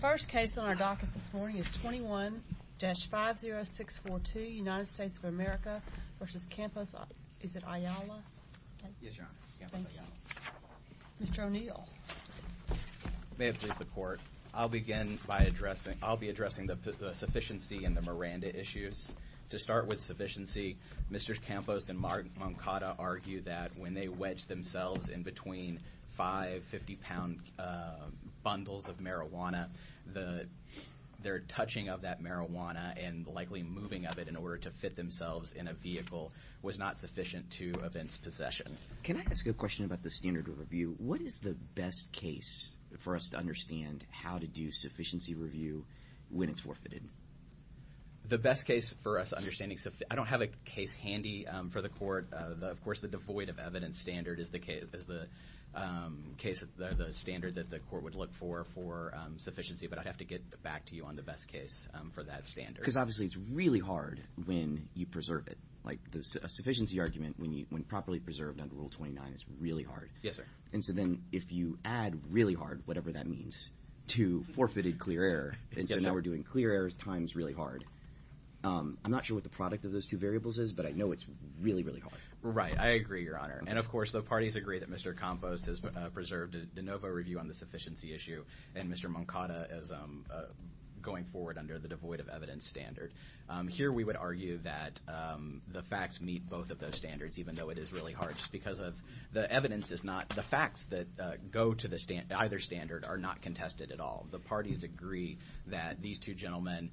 First case on our docket this morning is 21-50642, United States of America v. Campos-Ayala. Mr. O'Neill. May it please the Court. I'll begin by addressing, I'll be addressing the Sufficiency and the Miranda issues. To start with Sufficiency, Mr. Campos and Mark Moncada argue that when they wedged themselves in between five 50-pound bundles of marijuana, their touching of that marijuana and likely moving of it in order to fit themselves in a vehicle was not sufficient to offense possession. Can I ask a question about the standard of review? What is the best case for us to understand how to do sufficiency review when it's forfeited? The best case for us understanding, I don't have a case handy for the Court. Of course, the devoid of evidence standard is the case, the standard that the Court would look for for sufficiency, but I'd have to get back to you on the best case for that standard. Because obviously it's really hard when you preserve it. Like a sufficiency argument, when properly preserved under Rule 29, is really hard. Yes, sir. And so then if you add really hard, whatever that means, to forfeited clear error, and now we're doing clear errors times really hard. I'm not sure what the product of those two variables is, but I know it's really, really hard. Right. I agree, Your Honor. And of course, the parties agree that Mr. Campos has preserved a de novo review on the sufficiency issue, and Mr. Moncada is going forward under the devoid of evidence standard. Here we would argue that the facts meet both of those standards, even though it is really hard. Just because of the evidence is not, the facts that go to either standard are not contested at all. The parties agree that these two gentlemen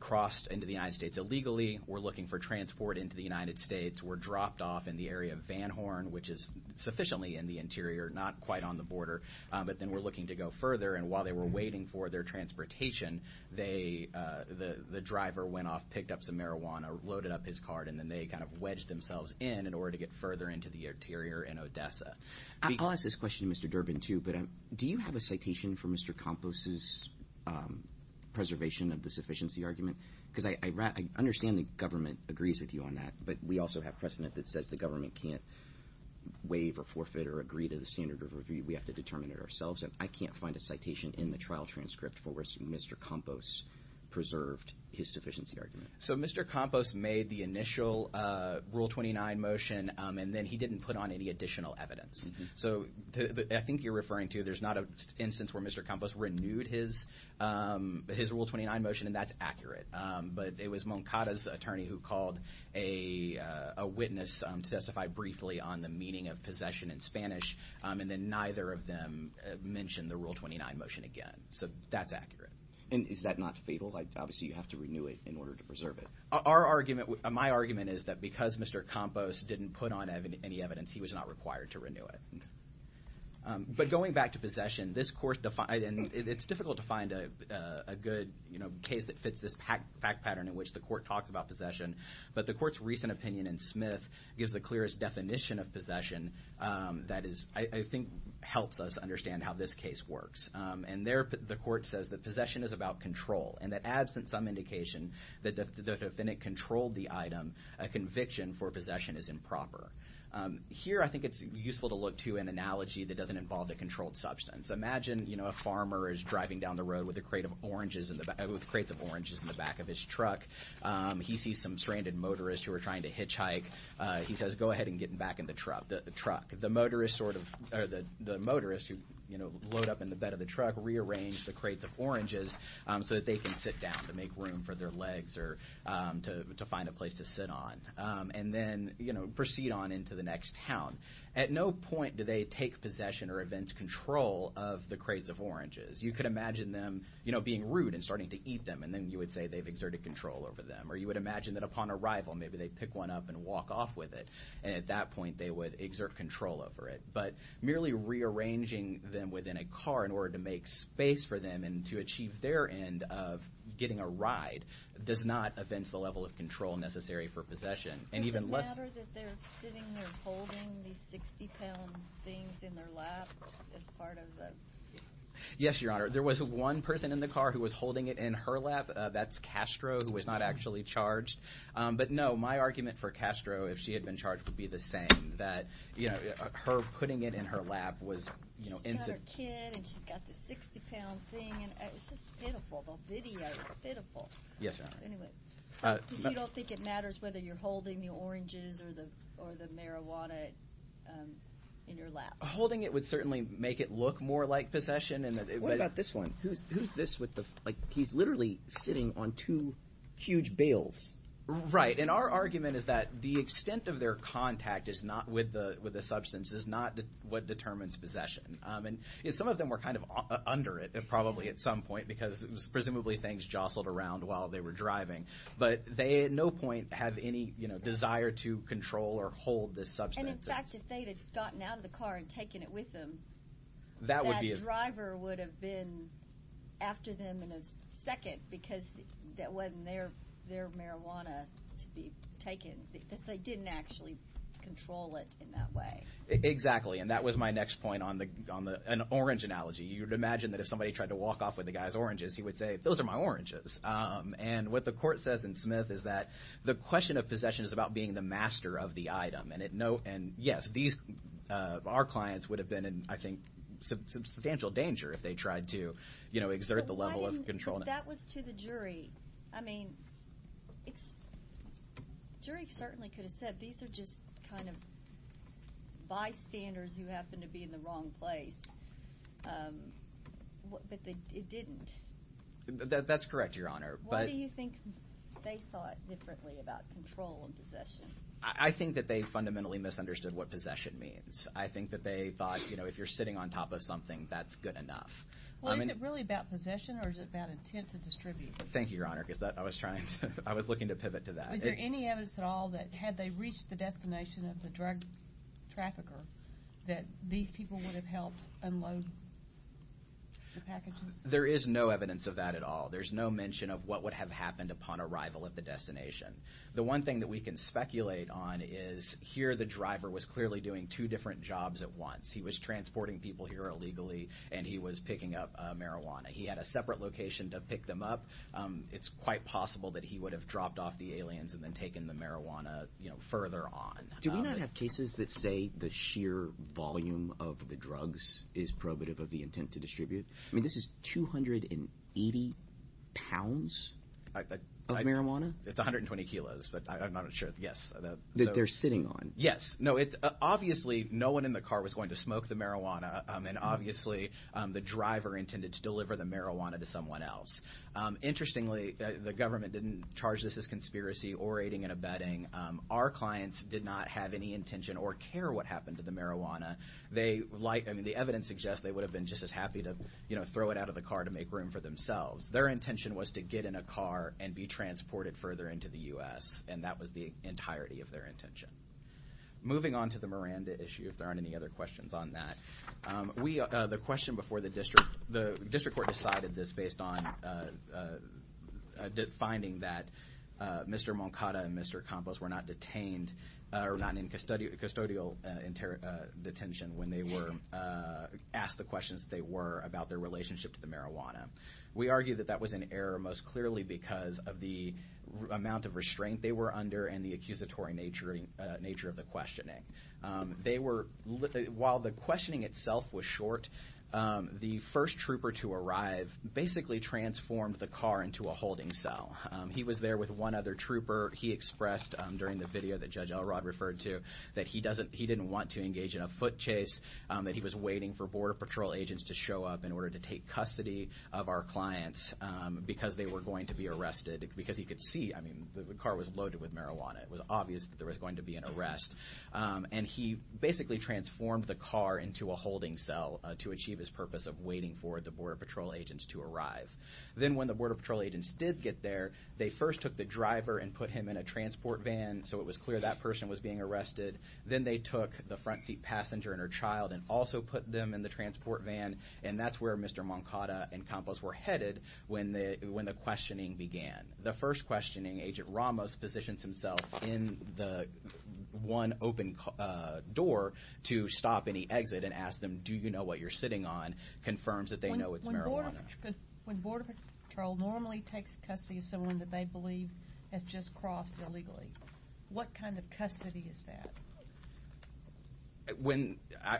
crossed into the United States illegally, were looking for transport into the United States, were dropped off in the area of Van Horn, which is sufficiently in the interior, not quite on the border, but then were looking to go further. And while they were waiting for their transportation, the driver went off, picked up some marijuana, loaded up his cart, and then they kind of wedged themselves in, in order to get further into the interior in Odessa. I'll ask this question to Mr. Durbin, too, but do you have a citation for Mr. Campos's preservation of the sufficiency argument? Because I understand the government agrees with you on that, but we also have precedent that says the government can't waive or forfeit or agree to the standard of review. We have to determine it ourselves. I can't find a citation in the trial transcript for where Mr. Campos preserved his sufficiency argument. So Mr. Campos made the initial Rule 29 motion, and then he didn't put on any additional evidence. So I think you're referring to, there's not an instance where Mr. Campos renewed his, his Rule 29 motion, and that's accurate. But it was Moncada's attorney who called a witness to testify briefly on the meaning of possession in Spanish, and then neither of them mentioned the Rule 29 motion again. So that's accurate. And is that not fatal? Obviously, you have to renew it in order to preserve it. Our argument, my argument is that because Mr. Campos didn't put on any evidence, he was not required to renew it. But going back to possession, this Court defined, and it's difficult to find a good case that fits this fact pattern in which the Court talks about possession, but the Court's recent opinion in Smith gives the clearest definition of possession that is, I think, helps us understand how this case works. And there, the Court says that possession is about control, and that absent some indication that the defendant controlled the item, a conviction for possession is improper. Here, I think it's useful to look to an analogy that doesn't involve a controlled substance. Imagine, you know, a farmer is driving down the road with a crate of oranges, with crates of oranges in the back of his truck. He sees some stranded motorists who are trying to hitchhike. He says, go ahead and get back in the truck. The motorists sort of, or the motorists who, you know, load up in the bed of the truck rearrange the crates of oranges so that they can sit down to make room for their legs or to find a place to sit on. And then, you know, proceed on into the next town. At no point do they take possession or event control of the crates of oranges. You could imagine them, you know, being rude and starting to eat them, and then you would say they've exerted control over them. Or you would imagine that upon arrival, maybe they pick one up and walk off with it, and at that point, they would exert control over it. But merely rearranging them within a car in order to make space for them and to achieve their end of getting a ride does not offence the level of control necessary for possession. And even less... Is it a matter that they're sitting there holding these 60-pound things in their lap as part of the... Yes, Your Honor. There was one person in the car who was holding it in her lap. That's Castro, who was not actually charged. But no, my argument for Castro, if she had been charged, would be the same, that, you know, her putting it in her lap was, you know, in... She's got her kid, and she's got this 60-pound thing, and it's just pitiful. They'll vitiate. It's pitiful. Yes, Your Honor. Anyway. Because you don't think it matters whether you're holding the oranges or the marijuana in your lap. Holding it would certainly make it look more like possession, and that it... What about this one? Who's this with the... Like, he's literally sitting on two huge bales. Right. And our argument is that the extent of their contact is not with the substance, is not what determines possession. And some of them were kind of under it, probably, at some point, because it was presumably things jostled around while they were driving. But they at no point have any, you know, desire to control or hold this substance. And in fact, if they had gotten out of the car and taken it with them... That would be... The driver would have been after them in a second, because that wasn't their marijuana to be taken, because they didn't actually control it in that way. Exactly. And that was my next point on the... On the... An orange analogy. You would imagine that if somebody tried to walk off with the guy's oranges, he would say, those are my oranges. And what the court says in Smith is that the question of possession is about being the master of the item. And it no... And yes, these... Our clients would have been in, I think, substantial danger if they tried to, you know, exert the level of control. But why didn't... That was to the jury. I mean, it's... Jury certainly could have said, these are just kind of bystanders who happen to be in the wrong place. But they... It didn't. That's correct, Your Honor. But... Why do you think they saw it differently about control and possession? I think that they fundamentally misunderstood what possession means. I think that they thought, you know, if you're sitting on top of something, that's good enough. I mean... Well, is it really about possession or is it about intent to distribute? Thank you, Your Honor, because that... I was trying to... I was looking to pivot to that. Is there any evidence at all that had they reached the destination of the drug trafficker that these people would have helped unload the packages? There is no evidence of that at all. There's no mention of what would have happened upon arrival at the destination. The one thing that we can speculate on is, here the driver was clearly doing two different jobs at once. He was transporting people here illegally, and he was picking up marijuana. He had a separate location to pick them up. It's quite possible that he would have dropped off the aliens and then taken the marijuana, you know, further on. Do we not have cases that say the sheer volume of the drugs is probative of the intent to distribute? I mean, this is 280 pounds of marijuana? It's 120 kilos, but I'm not sure. Yes. That they're sitting on? Yes. No, it's... Obviously, no one in the car was going to smoke the marijuana, and obviously the driver intended to deliver the marijuana to someone else. Interestingly, the government didn't charge this as conspiracy or aiding and abetting. Our clients did not have any intention or care what happened to the marijuana. They like... I mean, the evidence suggests they would have been just as happy to, you know, throw it out of the car to make room for themselves. Their intention was to get in a car and be transported further into the U.S., and that was the entirety of their intention. Moving on to the Miranda issue, if there aren't any other questions on that, we... The question before the district... The district court decided this based on finding that Mr. Moncada and Mr. Campos were not detained or not in custodial detention when they were asked the questions they were about their relationship to the marijuana. We argue that that was an error most clearly because of the amount of restraint they were under and the accusatory nature of the questioning. They were... While the questioning itself was short, the first trooper to arrive basically transformed the car into a holding cell. He was there with one other trooper. He expressed during the video that Judge Elrod referred to that he doesn't... He didn't want to engage in a foot chase, that he was waiting for Border Patrol agents to show up in order to take custody of our clients because they were going to be arrested because he could see... I mean, the car was loaded with marijuana. It was obvious that there was going to be an arrest. And he basically transformed the car into a holding cell to achieve his purpose of waiting for the Border Patrol agents to arrive. Then when the Border Patrol agents did get there, they first took the driver and put him in a transport van so it was clear that person was being arrested. Then they took the front seat passenger and her child and also put them in the transport van. And that's where Mr. Moncada and Campos were headed when the questioning began. The first questioning, Agent Ramos positions himself in the one open door to stop any exit and asks them, do you know what you're sitting on, confirms that they know it's marijuana. When Border Patrol normally takes custody of someone that they believe has just crossed illegally, what kind of custody is that?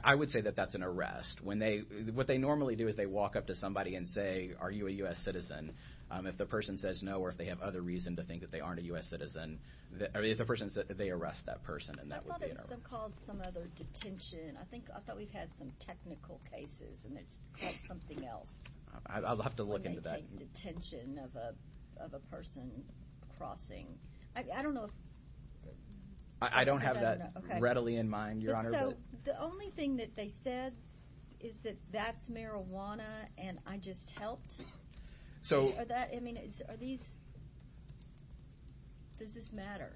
I would say that that's an arrest. What they normally do is they walk up to somebody and say, are you a U.S. citizen? If the person says no or if they have other reason to think that they aren't a U.S. citizen, they arrest that person. And that would be an arrest. I thought it was called some other detention. I thought we've had some technical cases and it's called something else. I'll have to look into that. I don't know if they normally take detention of a person crossing. I don't know. I don't have that readily in mind, Your Honor. So the only thing that they said is that that's marijuana and I just helped. So are these, does this matter?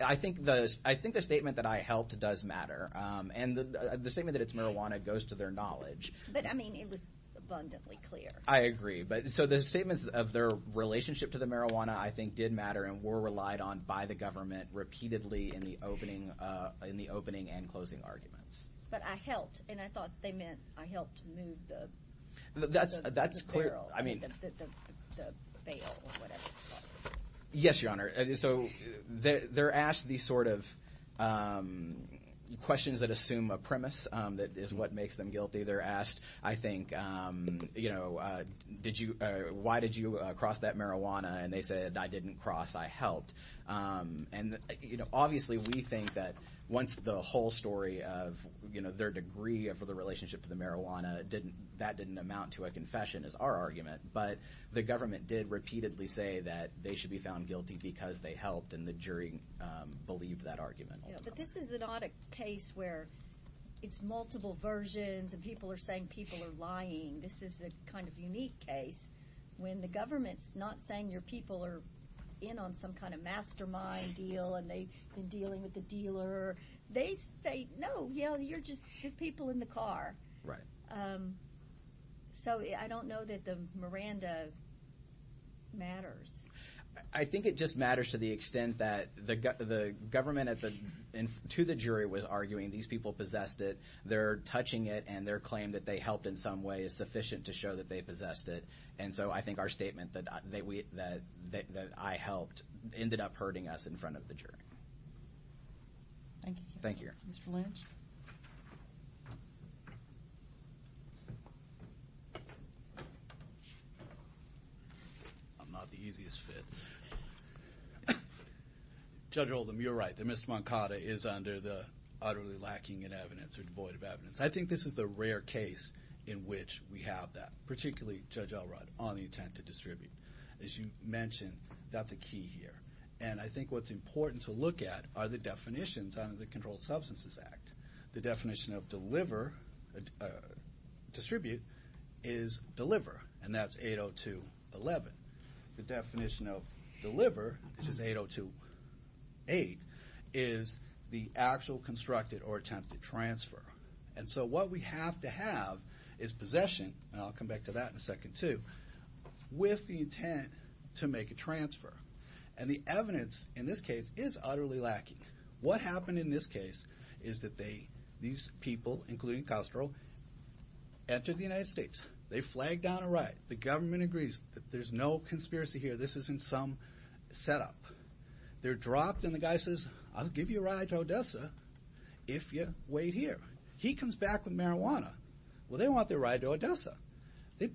I think the statement that I helped does matter and the statement that it's marijuana goes to their knowledge. But I mean, it was abundantly clear. I agree. But so the statements of their relationship to the marijuana, I think did matter and were relied on by the government repeatedly in the opening and closing arguments. But I helped and I thought they meant I helped move the barrel, the bale or whatever it's called. Yes, Your Honor. So they're asked these sort of questions that assume a premise that is what makes them guilty. They're asked, I think, you know, did you, why did you cross that marijuana? And they said, I didn't cross, I helped. And you know, obviously we think that once the whole story of, you know, their degree of the relationship to the marijuana didn't, that didn't amount to a confession is our argument. But the government did repeatedly say that they should be found guilty because they helped and the jury believed that argument. But this is not a case where it's multiple versions and people are saying people are lying. This is a kind of unique case when the government's not saying your people are in on some kind of mastermind deal and they've been dealing with the dealer. They say, no, you know, you're just the people in the car. Right. So I don't know that the Miranda matters. I think it just matters to the extent that the government to the jury was arguing these people possessed it, they're touching it, and their claim that they helped in some way is sufficient to show that they possessed it. And so I think our statement that I helped ended up hurting us in front of the jury. Thank you. Thank you. Mr. Lynch. I'm not the easiest fit. Judge Oldham, you're right. The misdemeanor is under the utterly lacking in evidence or devoid of evidence. I think this is the rare case in which we have that, particularly Judge Elrod on the intent to distribute. As you mentioned, that's a key here. And I think what's important to look at are the definitions under the Controlled Substances Act. The definition of deliver, distribute, is deliver. And that's 802.11. The definition of deliver, which is 802.8, is the actual constructed or attempted transfer. And so what we have to have is possession, and I'll come back to that in a second too, with the intent to make a transfer. And the evidence in this case is utterly lacking. What happened in this case is that these people, including Castro, entered the United States. They flagged down a ride. The government agrees that there's no conspiracy here. This is in some setup. They're dropped, and the guy says, I'll give you a ride to Odessa if you wait here. He comes back with marijuana. Well, they want their ride to Odessa. They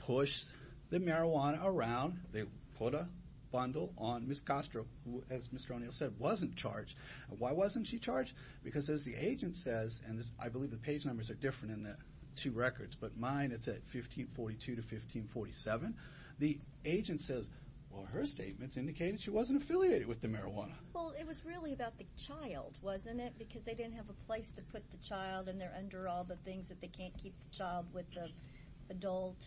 push the marijuana around. They put a bundle on Ms. Castro, who, as Mr. O'Neill said, wasn't charged. Why wasn't she charged? Because as the agent says, and I believe the page numbers are different in the two records, but mine, it's at 1542 to 1547, the agent says, well, her statements indicated she wasn't affiliated with the marijuana. Well, it was really about the child, wasn't it? Because they didn't have a place to put the child, and they're under all the things that they can't keep the child with the adult.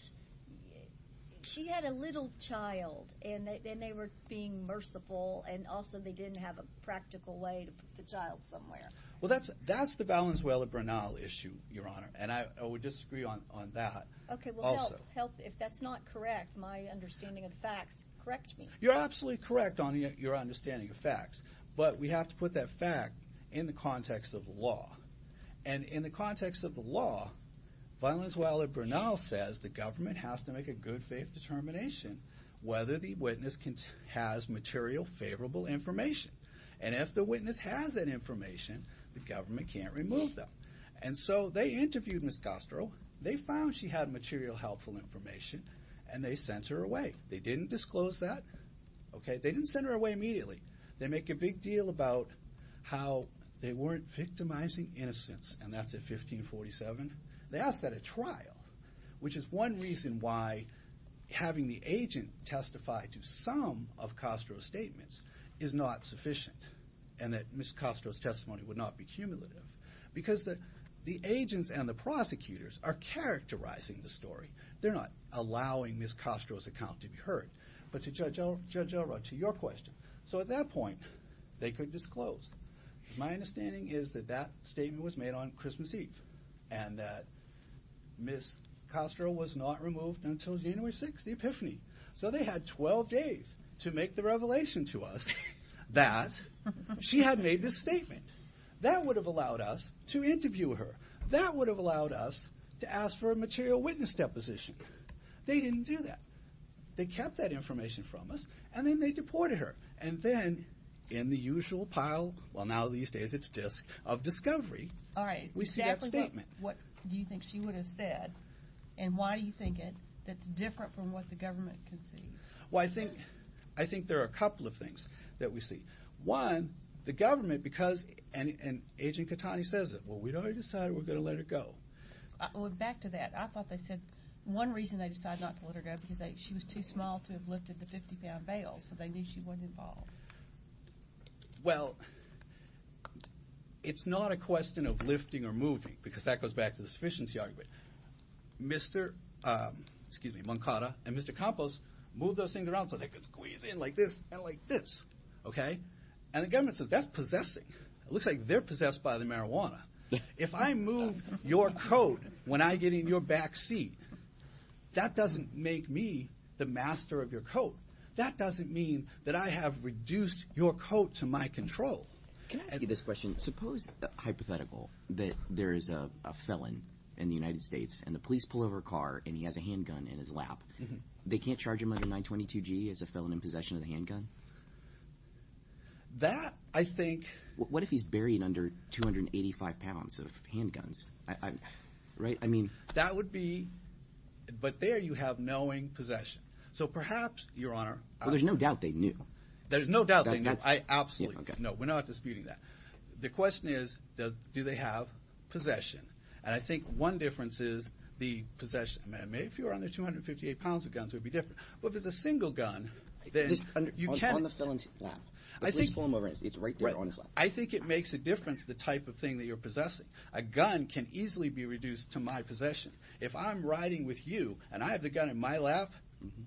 She had a little child, and they were being merciful, and also, they didn't have a practical way to put the child somewhere. Well, that's the Valenzuela-Bernal issue, Your Honor, and I would disagree on that also. Okay, well, help. If that's not correct, my understanding of facts, correct me. You're absolutely correct on your understanding of facts, but we have to put that fact in the context of the law, and in the context of the law, Valenzuela-Bernal says the government has to make a good faith determination whether the witness has material favorable information, and if the witness has that information, the government can't remove them. And so, they interviewed Ms. Castro. They found she had material helpful information, and they sent her away. They didn't disclose that, okay? They didn't send her away immediately. They make a big deal about how they weren't victimizing innocents, and that's at 1547. They asked that at trial, which is one reason why having the agent testify to some of Castro's statements is not sufficient, and that Ms. Castro's testimony would not be cumulative, because the agents and the prosecutors are characterizing the story. They're not allowing Ms. Castro's account to be heard, but to Judge Elrod, to your question, so at that point, they could disclose. My understanding is that that statement was made on Christmas Eve, and that Ms. Castro was not removed until January 6th, the epiphany. So they had 12 days to make the revelation to us that she had made this statement. That would have allowed us to interview her. That would have allowed us to ask for a material witness deposition. They didn't do that. They kept that information from us, and then they deported her, and then, in the usual pile, well, now these days, it's a disk of discovery. We see that statement. All right. Exactly what do you think she would have said, and why do you think it's different from what the government conceives? Well, I think there are a couple of things that we see. One, the government, because, and Agent Catani says it, well, we already decided we're going to let her go. Well, back to that. I thought they said one reason they decided not to let her go, because she was too small to have lifted the 50-pound bail, so they knew she wasn't involved. Well, it's not a question of lifting or moving, because that goes back to the sufficiency argument. Mr. Moncada and Mr. Campos moved those things around so they could squeeze in like this and like this. Okay? And the government says, that's possessing. It looks like they're possessed by the marijuana. If I move your coat when I get in your back seat, that doesn't make me the master of your coat. That doesn't mean that I have reduced your coat to my control. Can I ask you this question? Suppose, hypothetical, that there is a felon in the United States, and the police pull over a car, and he has a handgun in his lap. They can't charge him under 922G as a felon in possession of the handgun? That I think... What if he's buried under 285 pounds of handguns, right? I mean... That would be... But there you have knowing possession. So, perhaps, Your Honor... Well, there's no doubt they knew. There's no doubt they knew. Absolutely. No, we're not disputing that. The question is, do they have possession? And I think one difference is the possession. I mean, if you were under 258 pounds of guns, it would be different. But if it's a single gun, then you can't... On the felon's lap. The police pull him over. It's right there on his lap. Right. I think it makes a difference, the type of thing that you're possessing. possession. If I'm riding with you, and I have the gun in my lap,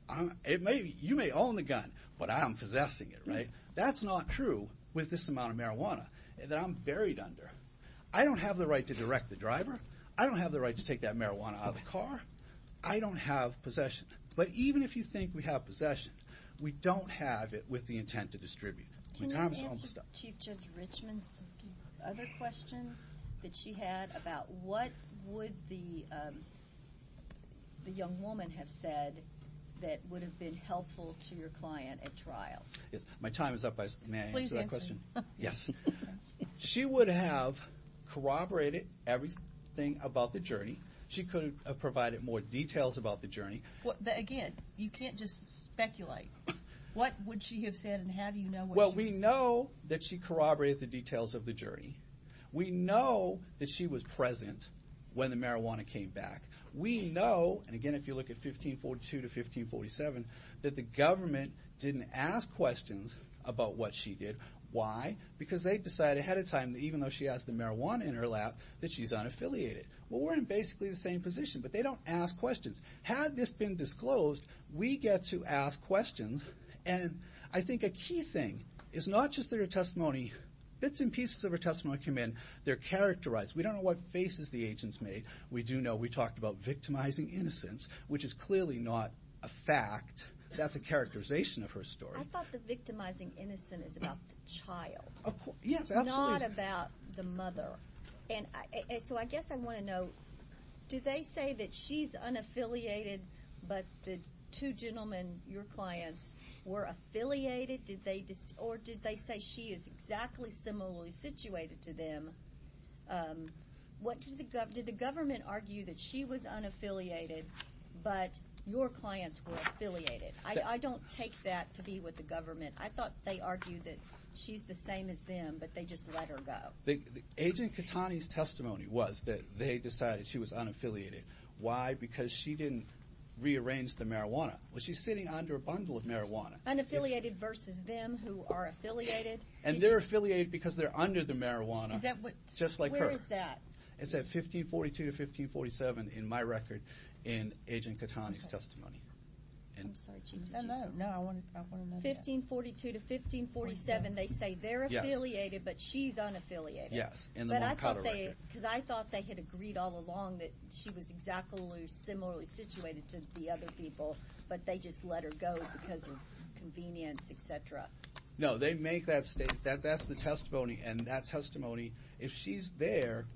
I can easily be reduced to your possession. You may own the gun, but I'm possessing it, right? That's not true with this amount of marijuana that I'm buried under. I don't have the right to direct the driver. I don't have the right to take that marijuana out of the car. I don't have possession. But even if you think we have possession, we don't have it with the intent to distribute. Can you answer Chief Judge Richman's other question that she had about what would the young woman have said that would have been helpful to your client at trial? Yes. My time is up. May I answer that question? Please answer me. Yes. She would have corroborated everything about the journey. She could have provided more details about the journey. Again, you can't just speculate. What would she have said, and how do you know what she said? Well, we know that she corroborated the details of the journey. We know that she was present when the marijuana came back. We know, and again, if you look at 1542 to 1547, that the government didn't ask questions about what she did. Why? Because they decided ahead of time that even though she has the marijuana in her lap, that she's unaffiliated. Well, we're in basically the same position, but they don't ask questions. Had this been disclosed, we get to ask questions. And I think a key thing is not just that her testimony, bits and pieces of her testimony came in. They're characterized. We don't know what faces the agents made. We do know we talked about victimizing innocence, which is clearly not a fact. That's a characterization of her story. I thought the victimizing innocence is about the child. Yes, absolutely. Not about the mother. And so I guess I want to know, do they say that she's unaffiliated, but the two gentlemen, your clients, were affiliated? Or did they say she is exactly similarly situated to them? Did the government argue that she was unaffiliated, but your clients were affiliated? I don't take that to be with the government. I thought they argued that she's the same as them, but they just let her go. Agent Catani's testimony was that they decided she was unaffiliated. Why? Because she didn't rearrange the marijuana. Well, she's sitting under a bundle of marijuana. Unaffiliated versus them who are affiliated? And they're affiliated because they're under the marijuana, just like her. Where is that? It's at 1542 to 1547 in my record, in Agent Catani's testimony. I'm sorry, Chief. No, no. I want to know that. 1542 to 1547, they say they're affiliated, but she's unaffiliated. Yes, in the Moncada record. Because I thought they had agreed all along that she was exactly similarly situated to the other people, but they just let her go because of convenience, et cetera. No, they make that statement. That's the testimony, and that testimony, if she's there,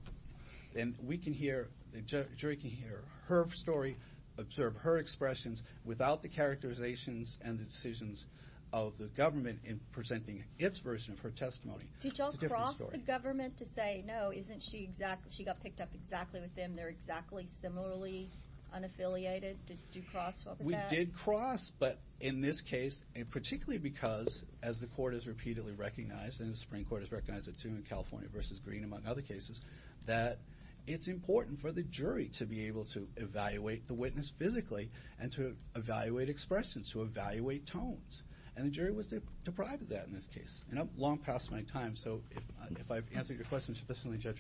then we can hear, the jury can hear her story, observe her expressions, without the characterizations and the decisions of the government in presenting its version of her testimony. Did y'all cross the government to say, no, isn't she exactly, she got picked up exactly with them, they're exactly similarly unaffiliated? Did you cross over that? We did cross, but in this case, and particularly because, as the court has repeatedly recognized, and the Supreme Court has recognized it too in California v. Green, among other cases, that it's important for the jury to be able to evaluate the witness physically and to evaluate expressions, to evaluate tones. And the jury was deprived of that in this case. And I'm long past my time, so if I've answered your question sufficiently, Judge,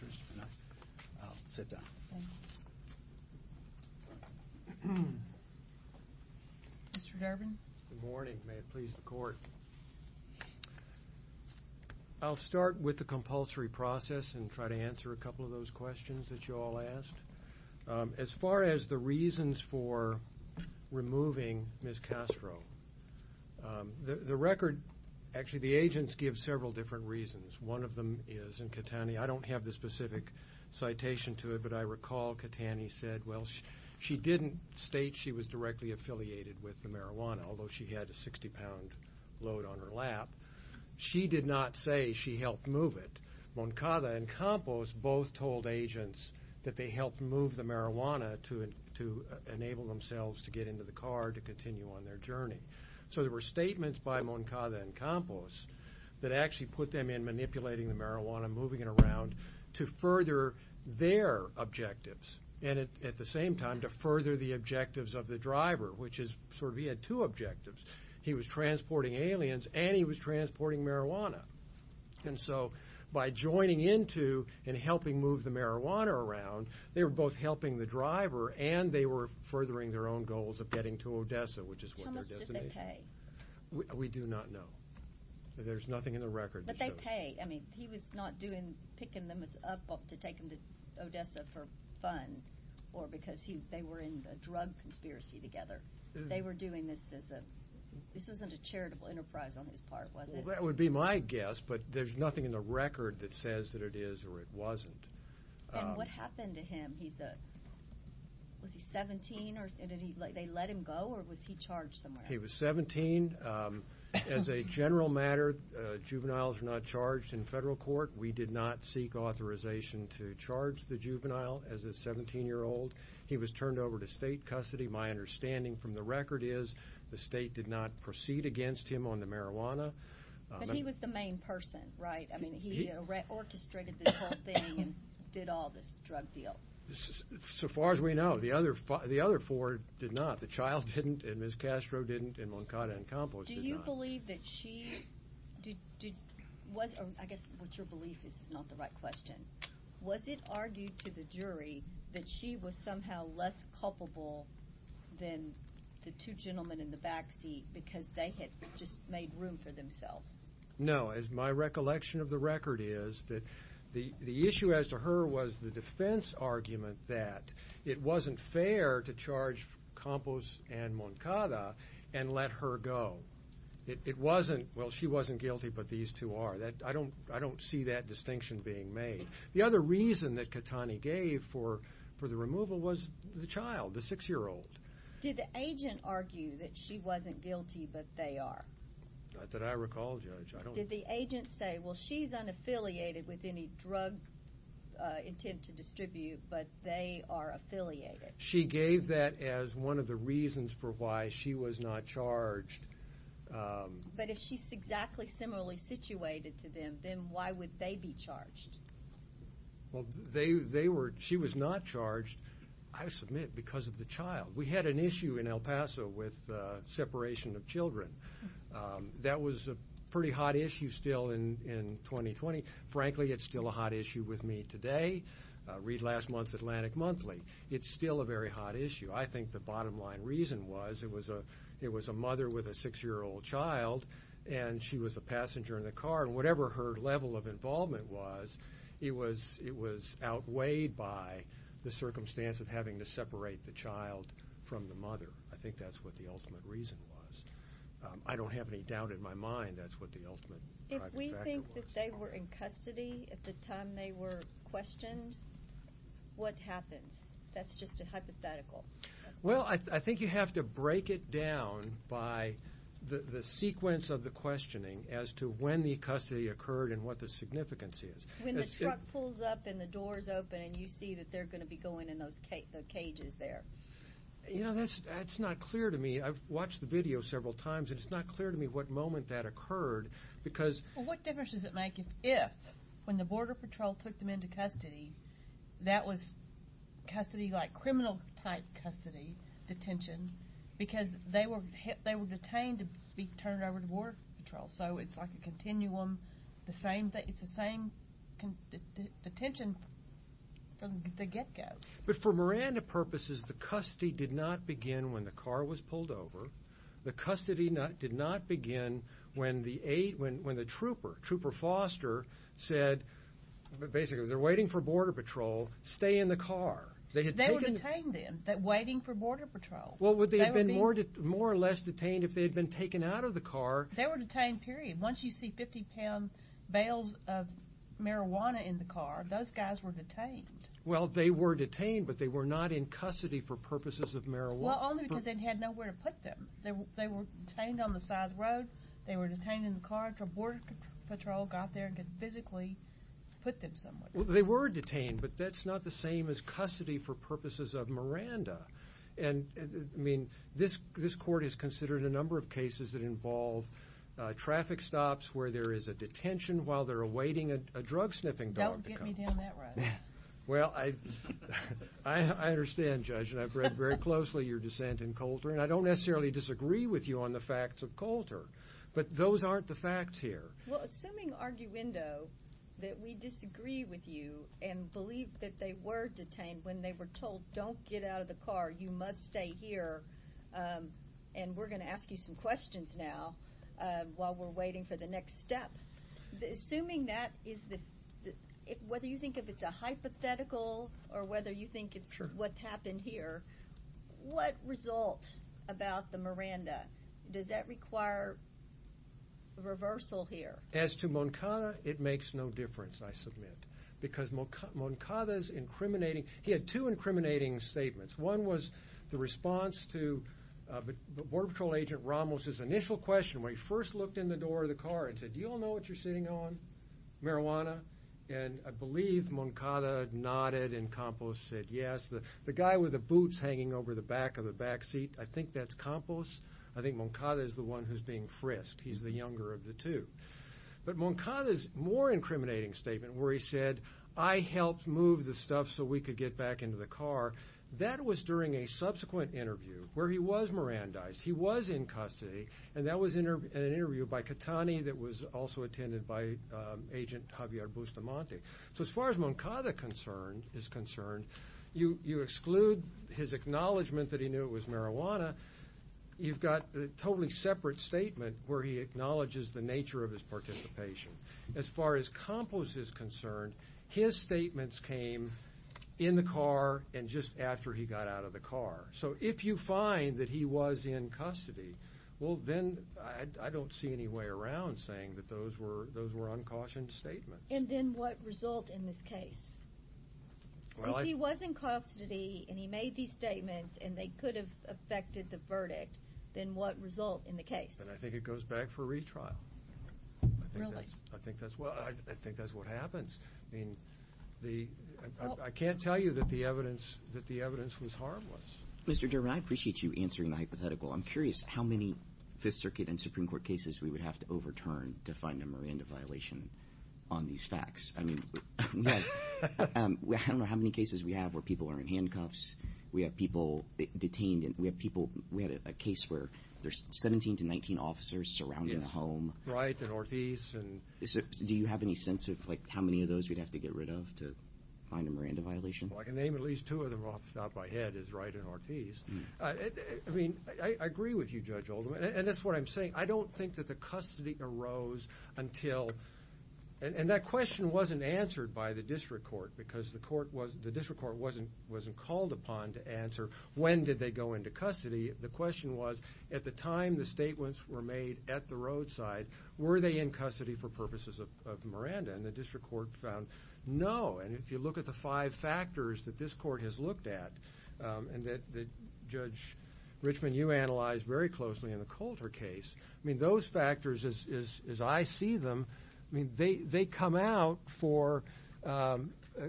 I'll sit down. Mr. Durbin? Good morning. May it please the court. I'll start with the compulsory process and try to answer a couple of those questions that you all asked. As far as the reasons for removing Ms. Castro, the record, actually the agents give several different reasons. One of them is, and Katani, I don't have the specific citation to it, but I recall Katani said, well, she didn't state she was directly affiliated with the marijuana, although she had a 60-pound load on her lap. She did not say she helped move it. Moncada and Campos both told agents that they helped move the marijuana to enable themselves to get into the car to continue on their journey. So there were statements by Moncada and Campos that actually put them in manipulating the marijuana, moving it around, to further their objectives and at the same time to further the objectives of the driver, which is sort of he had two objectives. He was transporting aliens and she was transporting marijuana. And so by joining into and helping move the marijuana around, they were both helping the driver and they were furthering their own goals of getting to Odessa, which is what their destination is. How much did they pay? We do not know. There's nothing in the record. But they pay. I mean, he was not picking them up to take them to Odessa for fun or because they were in a drug conspiracy together. They were doing this as a, well, that would be my guess, but there's nothing in the record that says that it is or it wasn't. And what happened to him? Was he 17? Did they let him go or was he charged somewhere else? He was 17. As a general matter, juveniles are not charged in federal court. We did not seek authorization to charge the juvenile as a 17-year-old. He was turned over to state custody. My understanding from the record is the state did not proceed against him but he was the main person, right? I mean, he orchestrated this whole thing and did all this drug deal. So far as we know, the other four did not. The child didn't and Ms. Castro didn't and Moncada and Campos did not. Do you believe that she, I guess what your belief is is not the right question. Was it argued to the jury than the two gentlemen in the backseat because they had just made room for themselves? No. As my recollection of the record is that the issue as to her was the defense argument that it wasn't fair to charge Campos and Moncada and let her go. It wasn't, well, she wasn't guilty but these two are. I don't see that distinction being made. The other reason that Catani gave for the removal was the child, the six-year-old. Did the agent argue that she wasn't guilty but they are? No, Judge. Did the agent say, well, she's unaffiliated with any drug intent to distribute but they are affiliated? She gave that as one of the reasons for why she was not charged. But if she's exactly similarly situated to them, then why would they be charged? Well, they were, she was not charged, I submit, because of the child. We had an issue in El Paso with separation of children. Very hot issue still in 2020. Frankly, it's still a hot issue with me today. Read last month's Atlantic Monthly. It's still a very hot issue. I think the bottom line reason was it was a mother with a six-year-old child and she was a passenger in the car and whatever her level of involvement was, it was outweighed by the circumstance of having to separate the child from the mother. I think that's what the ultimate reason was. I don't have any doubt in my mind that that was the ultimate factor. If we think that they were in custody at the time they were questioned, what happens? That's just a hypothetical. Well, I think you have to break it down by the sequence of the questioning as to when the custody occurred and what the significance is. When the truck pulls up and the door is open and you see that they're going to be going in those cages there. You know, that's not clear to me. I've watched the video several times and it's not clear to me what moment that occurred. What difference does it make if when the Border Patrol took them into custody, that was criminal-type custody, detention, because they were detained to be turned over to Border Patrol. So it's like a continuum. It's the same detention from the get-go. But for Miranda purposes, the custody did not begin when they were turned over. The custody did not begin when the trooper, Trooper Foster, said, basically, they're waiting for Border Patrol. Stay in the car. They were detained then, waiting for Border Patrol. Well, would they have been more or less detained if they had been taken out of the car? They were detained, period. Once you see 50-pound bales of marijuana in the car, those guys were detained. They were detained on the side of the road. They were detained in the car until Border Patrol got there and could physically put them somewhere. Well, they were detained, but that's not the same as custody for purposes of Miranda. And, I mean, this court has considered a number of cases that involve traffic stops where there is a detention while they're awaiting a drug-sniffing dog to come. Don't get me down that road. Well, I understand, Judge, that we generally disagree with you on the facts of Coulter, but those aren't the facts here. Well, assuming, arguendo, that we disagree with you and believe that they were detained when they were told, don't get out of the car, you must stay here, and we're going to ask you some questions now while we're waiting for the next step. Assuming that, whether you think if it's a hypothetical or whether you think it's a case of Miranda, does that require reversal here? As to Moncada, it makes no difference, I submit, because Moncada's incriminating. He had two incriminating statements. One was the response to Border Patrol Agent Ramos's initial question when he first looked in the door of the car and said, do you all know what you're sitting on, marijuana? And I believe Moncada nodded and Campos said yes. The guy with the boots hanging over the back of the backseat, I think that's Campos. I think Moncada is the one who's being frisked. He's the younger of the two. But Moncada's more incriminating statement where he said, I helped move the stuff so we could get back into the car, that was during a subsequent interview where he was Mirandized. He was in custody, and that was in an interview by Catani that was also attended by Moncada. If you exclude his acknowledgement that he knew it was marijuana, you've got a totally separate statement where he acknowledges the nature of his participation. As far as Campos is concerned, his statements came in the car and just after he got out of the car. So if you find that he was in custody, well then I don't see any way around saying that those were uncautioned statements. And then what result in this case? If he was in custody and he made these statements and they could have affected the verdict, then what result in the case? And I think it goes back for retrial. Really? I think that's what happens. I mean, I can't tell you that the evidence was harmless. Mr. Durbin, I appreciate you answering the hypothetical. I'm curious how many Fifth Circuit and Supreme Court cases we would have to overturn to find a Miranda violation on these facts? I mean, I don't know how many cases we have where people are in handcuffs. We have people detained. We had a case where there's 17 to 19 officers surrounding the home. Wright and Ortiz. Do you have any sense of how many of those we'd have to get rid of to find a Miranda violation? Well, I can name at least two of them off the top of my head, is Wright and Ortiz. I mean, I agree with you, Judge Oldham, and that's what I'm saying. I don't think that the custody arose until... And that question wasn't answered by the district court because the district court wasn't called upon to answer when did they go into custody. The question was at the time the statements were made at the roadside, were they in custody for purposes of Miranda? And the district court found no. And if you look at the five factors that this court has looked at and that Judge Richman, you analyzed very closely in the Colter case, I mean, those factors as I see them, I mean, they come out for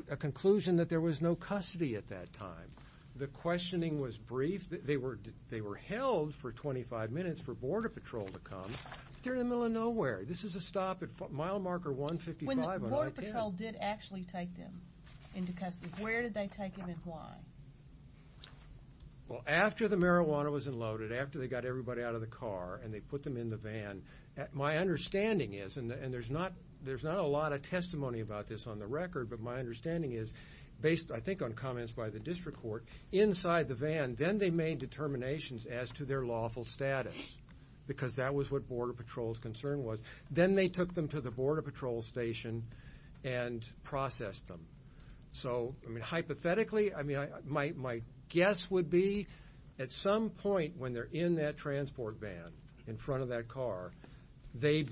a conclusion that there was no custody at that time. The questioning was brief. They were held for 25 minutes for Border Patrol to come. They're in the middle of nowhere. This is a stop at mile marker 155 when I did. When Border Patrol did actually take them into custody, where did they take them and why? Well, after the marijuana was unloaded, after they got everybody out of the car and they put them in the van, my understanding is, and there's not a lot of testimony about this on the record, but my understanding is based, I think, on comments by the district court, inside the van, then they made determinations as to their lawful status because that was what Border Patrol's concern was. Then they took them to the Border Patrol station and processed them. So, I mean, hypothetically, I mean, my guess would be that in that transport van, in front of that car, they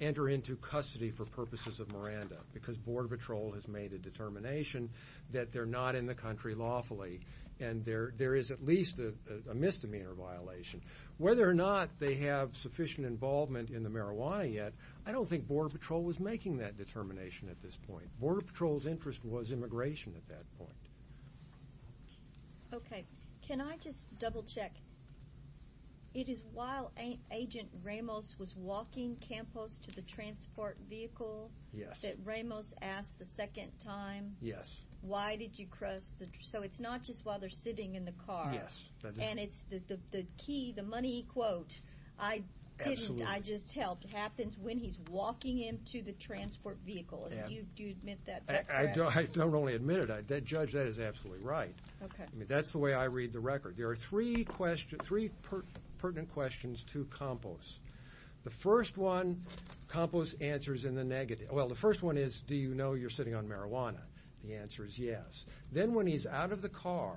enter into custody for purposes of Miranda because Border Patrol has made a determination that they're not in the country lawfully and there is at least a misdemeanor violation. Whether or not they have sufficient involvement in the marijuana yet, I don't think Border Patrol was making that determination at this point. Border Patrol's interest was immigration at that point. Okay. Can I just double check? It is while Agent Ramos was walking Campos to the transport vehicle that Ramos asked the second time, why did you cross the... So it's not just while they're sitting in the car. And it's the key, the money quote, I didn't, I just helped, happens when he's walking him to the transport vehicle. Do you admit that's correct? He says absolutely right. That's the way I read the record. There are three pertinent questions to Campos. The first one, Campos answers in the negative. Well, the first one is, do you know you're sitting on marijuana? The answer is yes. Then when he's out of the car,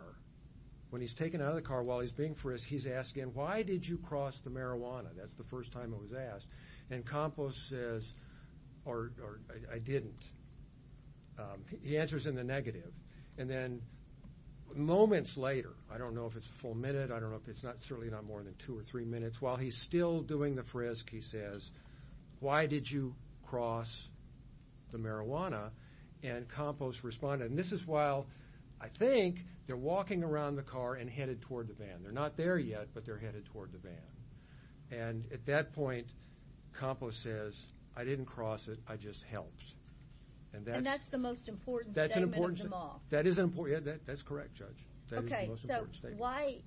when he's taken out of the car while he's being frisked, he's asking, why did you cross the marijuana? That's the first time it was asked. And Campos says, or I didn't. He answers in the negative. And then moments later, I don't know if it's a full minute, I don't know if it's not, certainly not more than two or three minutes, while he's still doing the frisk, he says, why did you cross the marijuana? And Campos responded, and this is while I think they're walking around the car and headed toward the van. They're not there yet, but they're headed toward the van. And at that point, Campos says, I didn't cross it, I just helped. And that's the most important statement of them all. That is an important, that's correct, Judge. Okay, so why,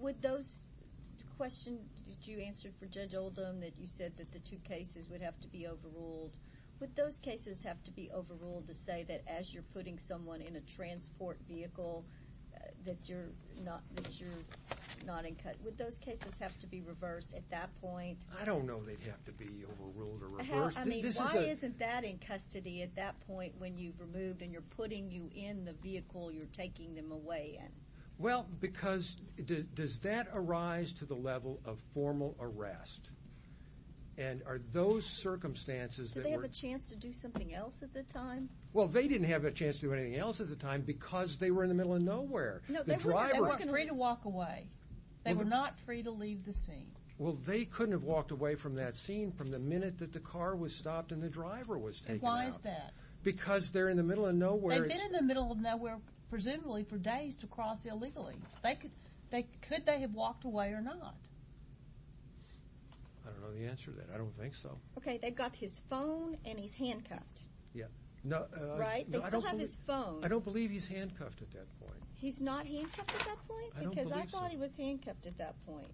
would those questions, did you answer for Judge Oldham that you said that the two cases would have to be overruled? Would those cases have to be overruled to say that as you're putting someone in a transport vehicle, that you're not, that you're not in, that they have to be overruled or reversed? I mean, why isn't that in custody at that point when you've removed and you're putting you in the vehicle you're taking them away in? Well, because, does that arise to the level of formal arrest? And are those circumstances that were... Did they have a chance to do something else at the time? Well, they didn't have a chance to do anything else at the time because they were in the middle of nowhere. The driver... That's what I've seen from the minute that the car was stopped and the driver was taken out. Why is that? Because they're in the middle of nowhere. They've been in the middle of nowhere presumably for days to cross illegally. Could they have walked away or not? I don't know the answer to that. I don't think so. Okay, they've got his phone and he's handcuffed. Right? They still have his phone. I don't believe he's handcuffed at that point. He's not handcuffed at that point? I don't believe so. Because I thought he was handcuffed at that point.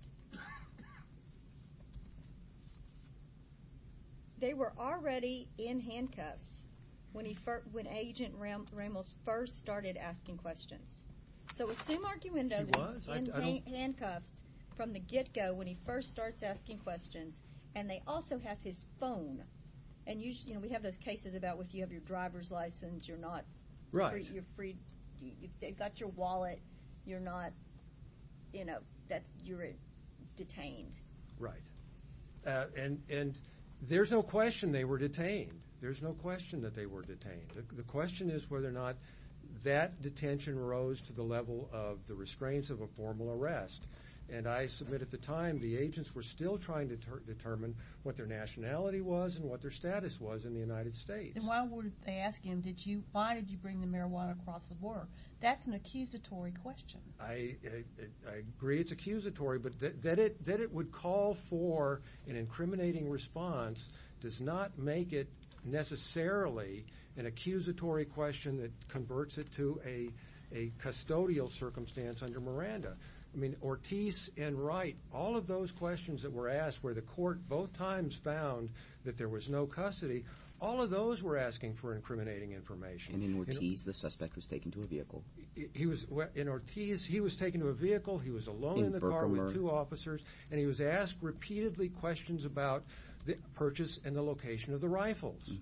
They were already in handcuffs when Agent Ramos first started asking questions. So assume Archie Wendo was in handcuffs from the get-go when he first starts asking questions and they also have his phone. And we have those cases about if you have your driver's license, you're not... if they've got your wallet, you're not, you know, you're detained. Right. And there's no question they were detained. There's no question that they were detained. The question is whether or not that detention rose to the level of the restraints of a formal arrest. And I submit at the time the agents were still trying to determine what their nationality was and what their status was in the United States. And why would they ask him, why did you bring the marijuana across the border? That's an accusatory question. I agree it's accusatory, but that it would call for an incriminating response does not make it necessarily an accusatory question that converts it to a custodial circumstance under Miranda. I mean, Ortiz and Wright, all of those questions that were asked where the court both times found that there was no custody, all of those were asking for incriminating information. And in Ortiz the suspect was taken to a vehicle. In Ortiz he was taken to a vehicle, he was alone in the car with two officers, and he was asked repeatedly questions about the purchase and the location of the rifles.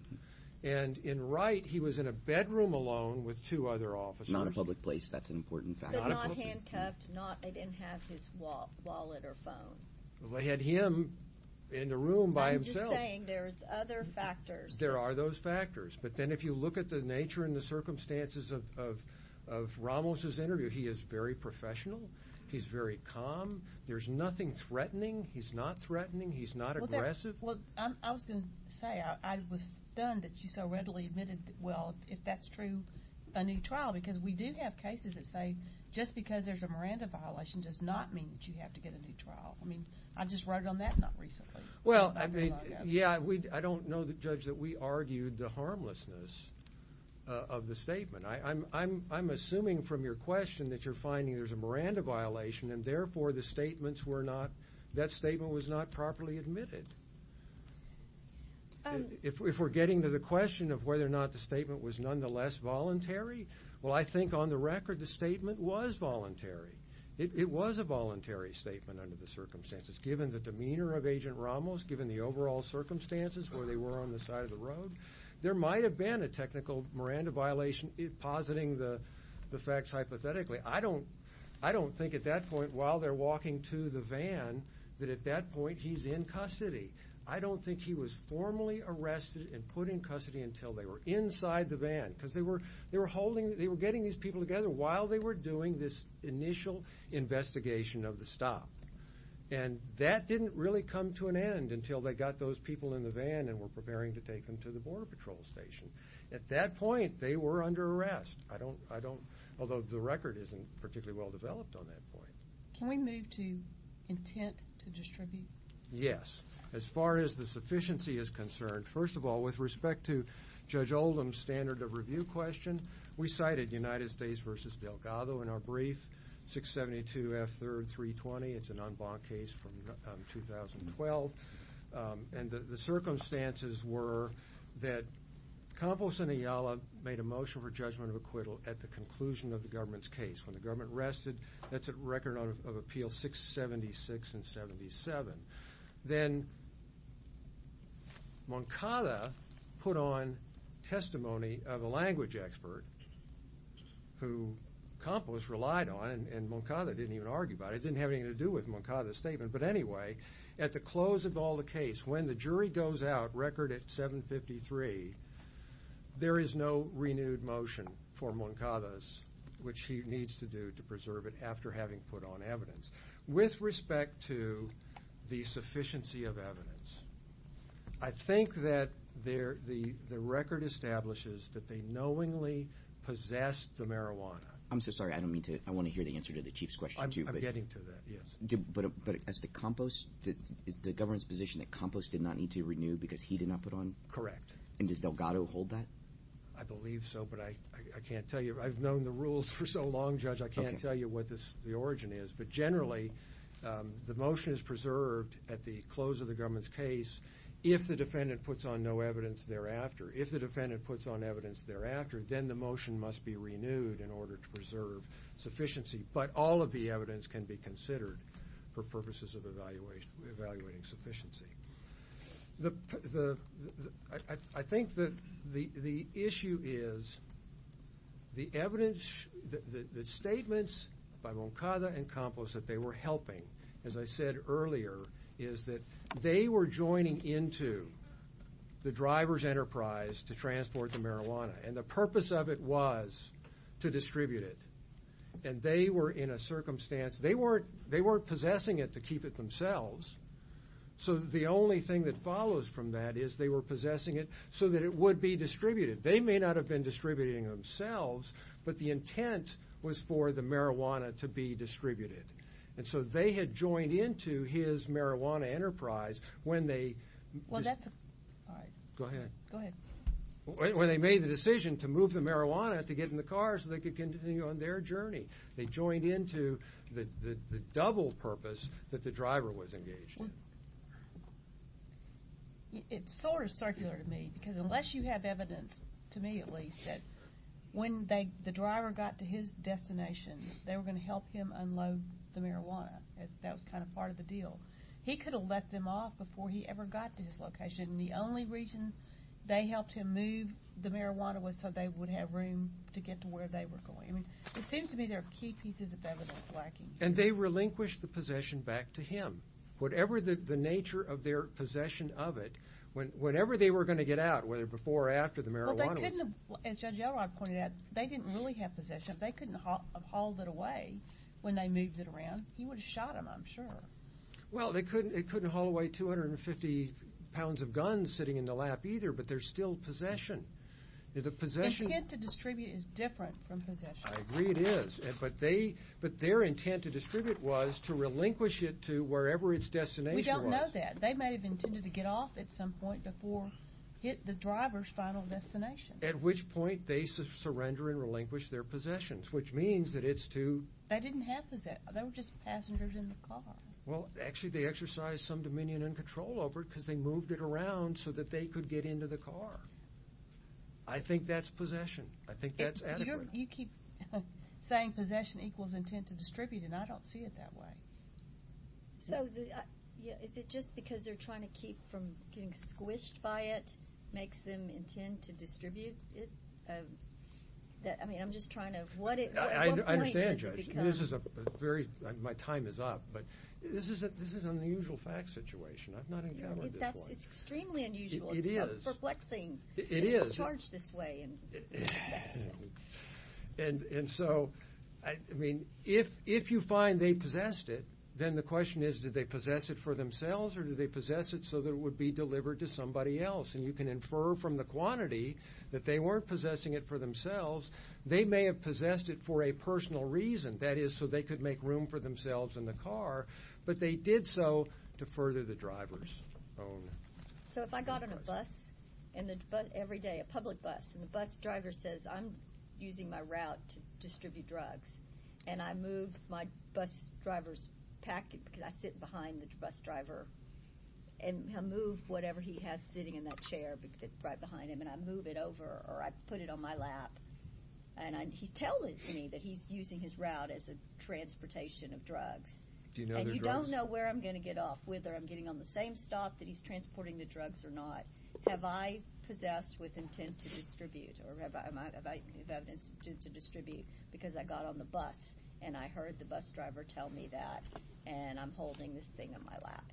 And in Wright he was in a bedroom alone with two other officers. Not a public place, that's an important fact. But not handcuffed, they didn't have his wallet or phone. They had him in the room by himself. I'm just saying there's other factors There are those factors. But then if you look at the nature and the circumstances of Ramos' interview, he is very professional, he's very calm, there's nothing threatening, he's not threatening, he's not aggressive. I was going to say, I was stunned that you so readily admitted well, if that's true, a new trial. Because we do have cases that say just because there's a Miranda violation does not mean that you have to get a new trial. I mean, I just wrote on that not recently. Well, I mean, yeah, but we argued the harmlessness of the statement. I'm assuming from your question that you're finding there's a Miranda violation and therefore the statements were not, that statement was not properly admitted. If we're getting to the question of whether or not the statement was nonetheless voluntary, well, I think on the record the statement was voluntary. It was a voluntary statement under the circumstances. Given the demeanor of Agent Ramos, given the overall circumstances where they were on the side of the law, on the side of the road, there might have been a technical Miranda violation positing the facts hypothetically. I don't think at that point while they're walking to the van that at that point he's in custody. I don't think he was formally arrested and put in custody until they were inside the van because they were holding, they were getting these people together while they were doing this initial investigation of the stop. And that didn't really come to an end until they got those people in the van and brought them to the Border Patrol Station. At that point they were under arrest. I don't, I don't, although the record isn't particularly well developed on that point. Can we move to intent to distribute? Yes. As far as the sufficiency is concerned, first of all with respect to Judge Oldham's standard of review question, we cited United States v. Delgado in our brief, 672 F.3.320. It's an en banc case from 2012. And the circumstances were that Campos and Ayala made a motion for judgment of acquittal at the conclusion of the government's case. When the government rested, that's a record of appeal 676 and 77. Then, Moncada put on testimony of a language expert who Campos relied on and Moncada didn't even argue about it. It didn't have anything to do with Moncada's statement. But anyway, at the close of all the case, when the jury goes out, 673, there is no renewed motion for Moncada's, which he needs to do to preserve it after having put on evidence. With respect to the sufficiency of evidence, I think that the record establishes that they knowingly possessed the marijuana. I'm so sorry, I don't mean to, I want to hear the answer to the Chief's question too. I'm getting to that, yes. But is the government's position and does Delgado hold that? I believe so, but I can't tell you. I've known the rules for so long, Judge, I can't tell you what the origin is. But generally, the motion is preserved at the close of the government's case if the defendant puts on no evidence thereafter. If the defendant puts on evidence thereafter, then the motion must be renewed in order to preserve sufficiency. But all of the evidence can be considered for purposes of evaluating sufficiency. I think that the issue is the evidence, the statements by Boncada and Campos that they were helping, as I said earlier, is that they were joining into the driver's enterprise to transport the marijuana. And the purpose of it was to distribute it. And they were in a circumstance, they weren't possessing it to keep it themselves. So the only thing that follows from that is they were possessing it so that it would be distributed. They may not have been distributing themselves, but the intent was for the marijuana to be distributed. And so they had joined into his marijuana enterprise when they... Well, that's... All right. Go ahead. Go ahead. When they made the decision to move the marijuana to get in the car so they could continue on their journey. They joined into the double purpose that the driver was engaged in. It's sort of circular to me because unless you have evidence, to me at least, that when the driver got to his destination they were going to help him unload the marijuana. That was kind of part of the deal. He could have let them off before he ever got to his location. And the only reason they helped him move the marijuana was so they would have room to get to where they were going. I mean, it seems to me there are key pieces of evidence lacking. And they relinquished the possession back to him. Whatever the nature of their possession of it, whenever they were going to get out, whether before or after the marijuana was... Well, they couldn't have... As Judge Elrod pointed out, they didn't really have possession. If they couldn't have hauled it away when they moved it around, he would have shot them, I'm sure. Well, they couldn't... It couldn't haul away 250 pounds of guns sitting in the lap either, but there's still possession. The possession... Intent to distribute is different from possession. I agree it is. But they... But their intent to distribute was to relinquish it to wherever its destination was. We don't know that. They may have intended to get off at some point before it hit the driver's final destination. At which point, they surrender and relinquish their possessions, which means that it's to... They didn't have possession. They were just passengers in the car. Well, actually, they exercised some dominion and control over it because they moved it around so that they could get into the car. I think that's possession. I think that's adequate. You keep saying possession equals intent to distribute, and I don't see it that way. So, is it just because they're trying to keep from getting squished by it makes them intend to distribute it? I mean, I'm just trying to... At what point does it become... I understand, Judge. This is a very... My time is up, but this is an unusual fact situation. I've not encountered this one. That's extremely unusual. It is. It's perplexing. It is. It's charged this way. And so, I mean, if you find they possessed it, then the question is, did they possess it for themselves or did they possess it so that it would be delivered to somebody else? And you can infer from the quantity that they weren't possessing it for themselves. They may have possessed it for a personal reason. That is, so they could make room for themselves in the car, but they did so to further the driver's own... So, if I got on a bus every day, a public bus, and the bus driver says, I'm using my route to distribute drugs, and I move my bus driver's packet, because I sit behind the bus driver, and I move whatever he has sitting in that chair right behind him, and I move it over or I put it on my lap, and he's telling me that he's using his route as a transportation of drugs, and you don't know where I'm going to get off, whether I'm getting on the same stop that he's transporting the drugs or not. Have I possessed with intent to distribute or have I had an intent to distribute because I got on the bus, and I heard the bus driver tell me that, and I'm holding this thing in my lap.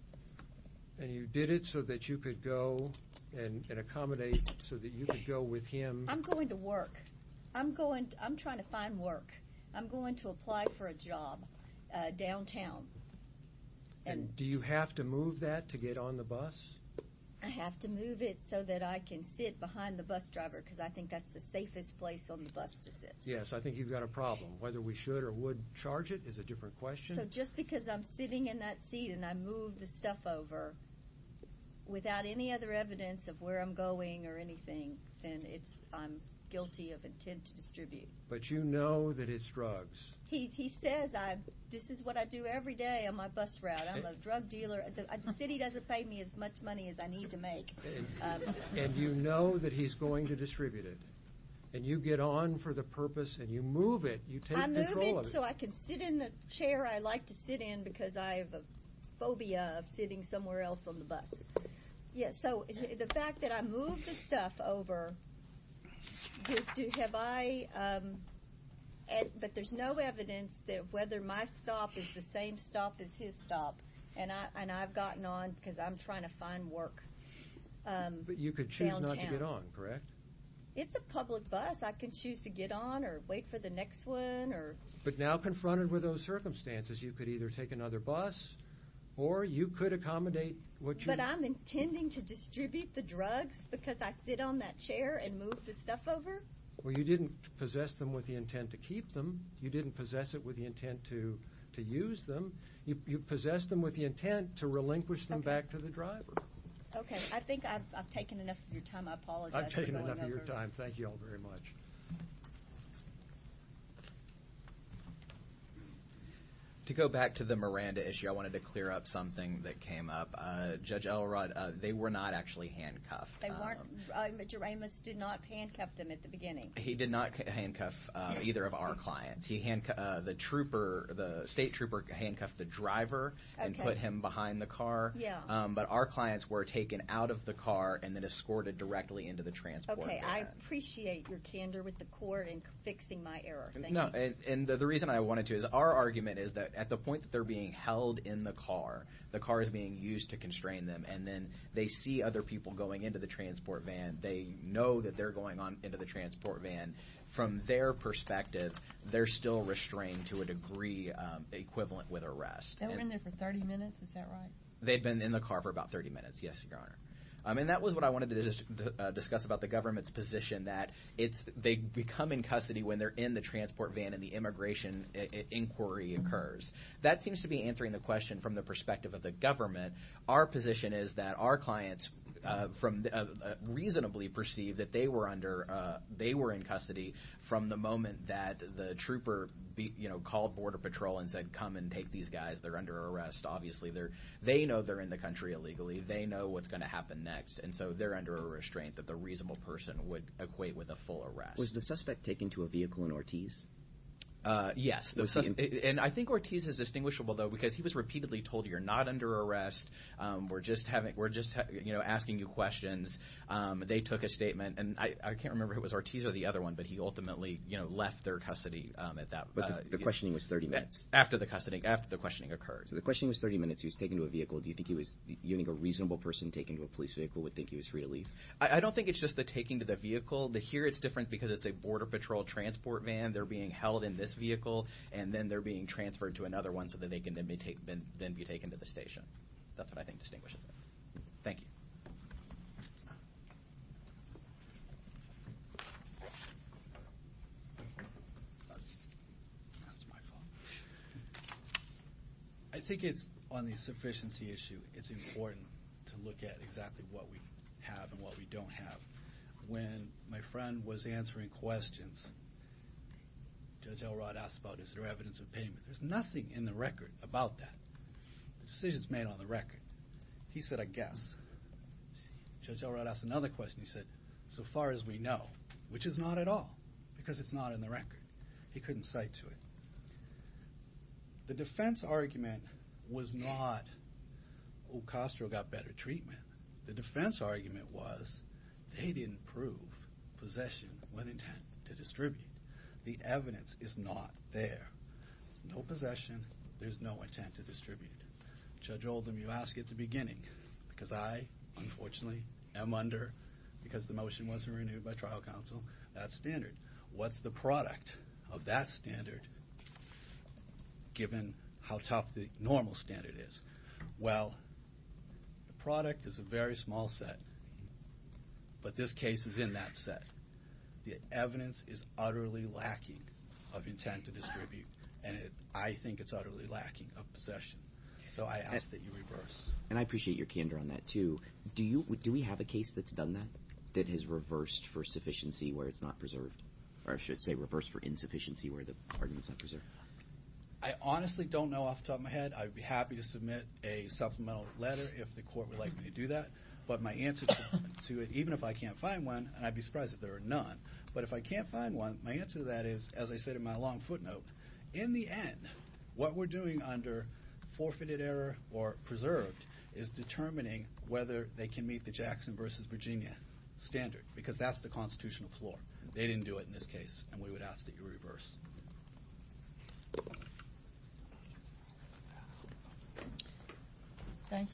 And you did it so that you could go and accommodate so that you could go with him... I'm going to work. I'm going... I'm trying to find work. I'm going to apply for a job downtown. And do you have to move that to get on the bus? I have to move it so that I can sit behind the bus driver because I think that's the safest place on the bus to sit. Yes, I think you've got a problem. Whether we should or would charge it is a different question. So just because I'm sitting in that seat and I move the stuff over without any other evidence of where I'm going or anything, then I'm guilty of intent to distribute. But you know that it's drugs. He says, this is what I do every day on my bus route. I'm a drug dealer. The city doesn't pay me as much money as I need to make. And you know that he's going to distribute it. And you get on and you do it for the purpose and you move it. You take control of it. I move it so I can sit in the chair I like to sit in because I have a phobia of sitting somewhere else on the bus. So the fact that I move the stuff over, but there's no evidence that whether my stop is the same stop as his stop and I've gotten on not to get on, correct? It's a public bus. I can choose to get on. I can choose not to get on. I can choose not to get on. I can choose not to get on or wait for the next one. But now confronted with those circumstances you could either take another bus or you could accommodate But I'm intending to distribute the drugs because I sit on that chair and move the stuff over? Well you didn't possess them with the intent to keep them. You didn't possess it with the intent to use them. You possessed them with the intent to relinquish them back to the driver. Okay. I think I've taken enough of your time. I apologize. I've taken enough of your time. Thank you all very much. Thank you. To go back to the Miranda issue I wanted to clear up something that came up. Judge Elrod, they were not actually handcuffed. They weren't. Jaramus did not handcuff them at the beginning. He did not handcuff either of our clients. He handcuffed the trooper, the state trooper handcuffed the driver and put him behind the car. Yeah. But our clients were taken out of the car and then escorted directly into the transport. Okay. I appreciate your candor with the court in fixing my error. Thank you. No. And the reason I wanted to is our argument is that at the point that they're being held in the car the car is being used to constrain them and then they see other people going into the transport van. They know that they're going into the transport van. From their perspective they're still restrained to a degree equivalent with arrest. They were in there for 30 minutes. Is that right? They'd been in the car for about 30 minutes. Yes, Your Honor. And that was what I wanted to discuss about the government's position that they become in custody when they're in the transport van and the immigration inquiry occurs. That seems to be answering the question from the perspective of the government. Our position is that our clients reasonably perceive that they were under they were in custody from the moment that the trooper called Border Patrol and said, come and take these guys. They're under arrest. Obviously they know they're in the country illegally. They know what's going to happen next. And so they're under a restraint that they're reasonably perceiving that a reasonable person would equate with a full arrest. Was the suspect taken to a vehicle in Ortiz? Yes. And I think Ortiz is distinguishable though because he was repeatedly told, you're not under arrest. We're just asking you questions. They took a statement and I can't remember if it was Ortiz or the other one but he ultimately left their custody at that But the questioning was 30 minutes. After the questioning occurred. So the questioning was 30 minutes. He was taken to a vehicle. Do you think a reasonable person taken to a police vehicle would think he was free to leave? I don't think it's just the taking to the vehicle. Here it's different because it's a Border Patrol transport van. They're being held in this vehicle and then they're being transferred to another one so that they can then be taken to the station. That's what I think distinguishes them. Thank you. I think it's on the sufficiency issue it's important to look at exactly what we have and what we don't have. When my friend was answering questions Judge Elrod asked about is there evidence of payment. There's nothing in the record about that. The decision's made on the record. He said I guess. Judge Elrod asked another question he said so far as we know which is not at all because it's not in the record. He couldn't cite to it. The defense argument was not O'Costro got better treatment. The defense argument was they didn't prove possession with intent to distribute. The evidence is not there. There's no possession. There's no intent to distribute. Judge Oldham you asked at the because I unfortunately am under because the motion wasn't renewed by trial counsel that standard. What's the product of that standard given how tough the issue is with the normal standard is? Well the product is a very small set but this case is in that set. The evidence is utterly lacking of intent to distribute and I think it's utterly lacking of possession. So I ask that you reverse. And I appreciate your candor on that too. Do we have a case that's done that that has reversed for sufficiency where it's not preserved or I should say reversed for insufficiency where the argument is not preserved? I honestly don't know off the top of my head. I'd be happy to submit a supplemental letter if the court would like me to do that but my answer to it even if I can't find one and I'd be surprised if there are none but if I can't find one my answer to that is as I said in my long footnote in the end what we're doing under forfeited error or preserved is determining whether they can meet the Jackson versus Virginia standard because that's the constitutional floor. They didn't do it in this case and we would ask that you reverse. Thank you.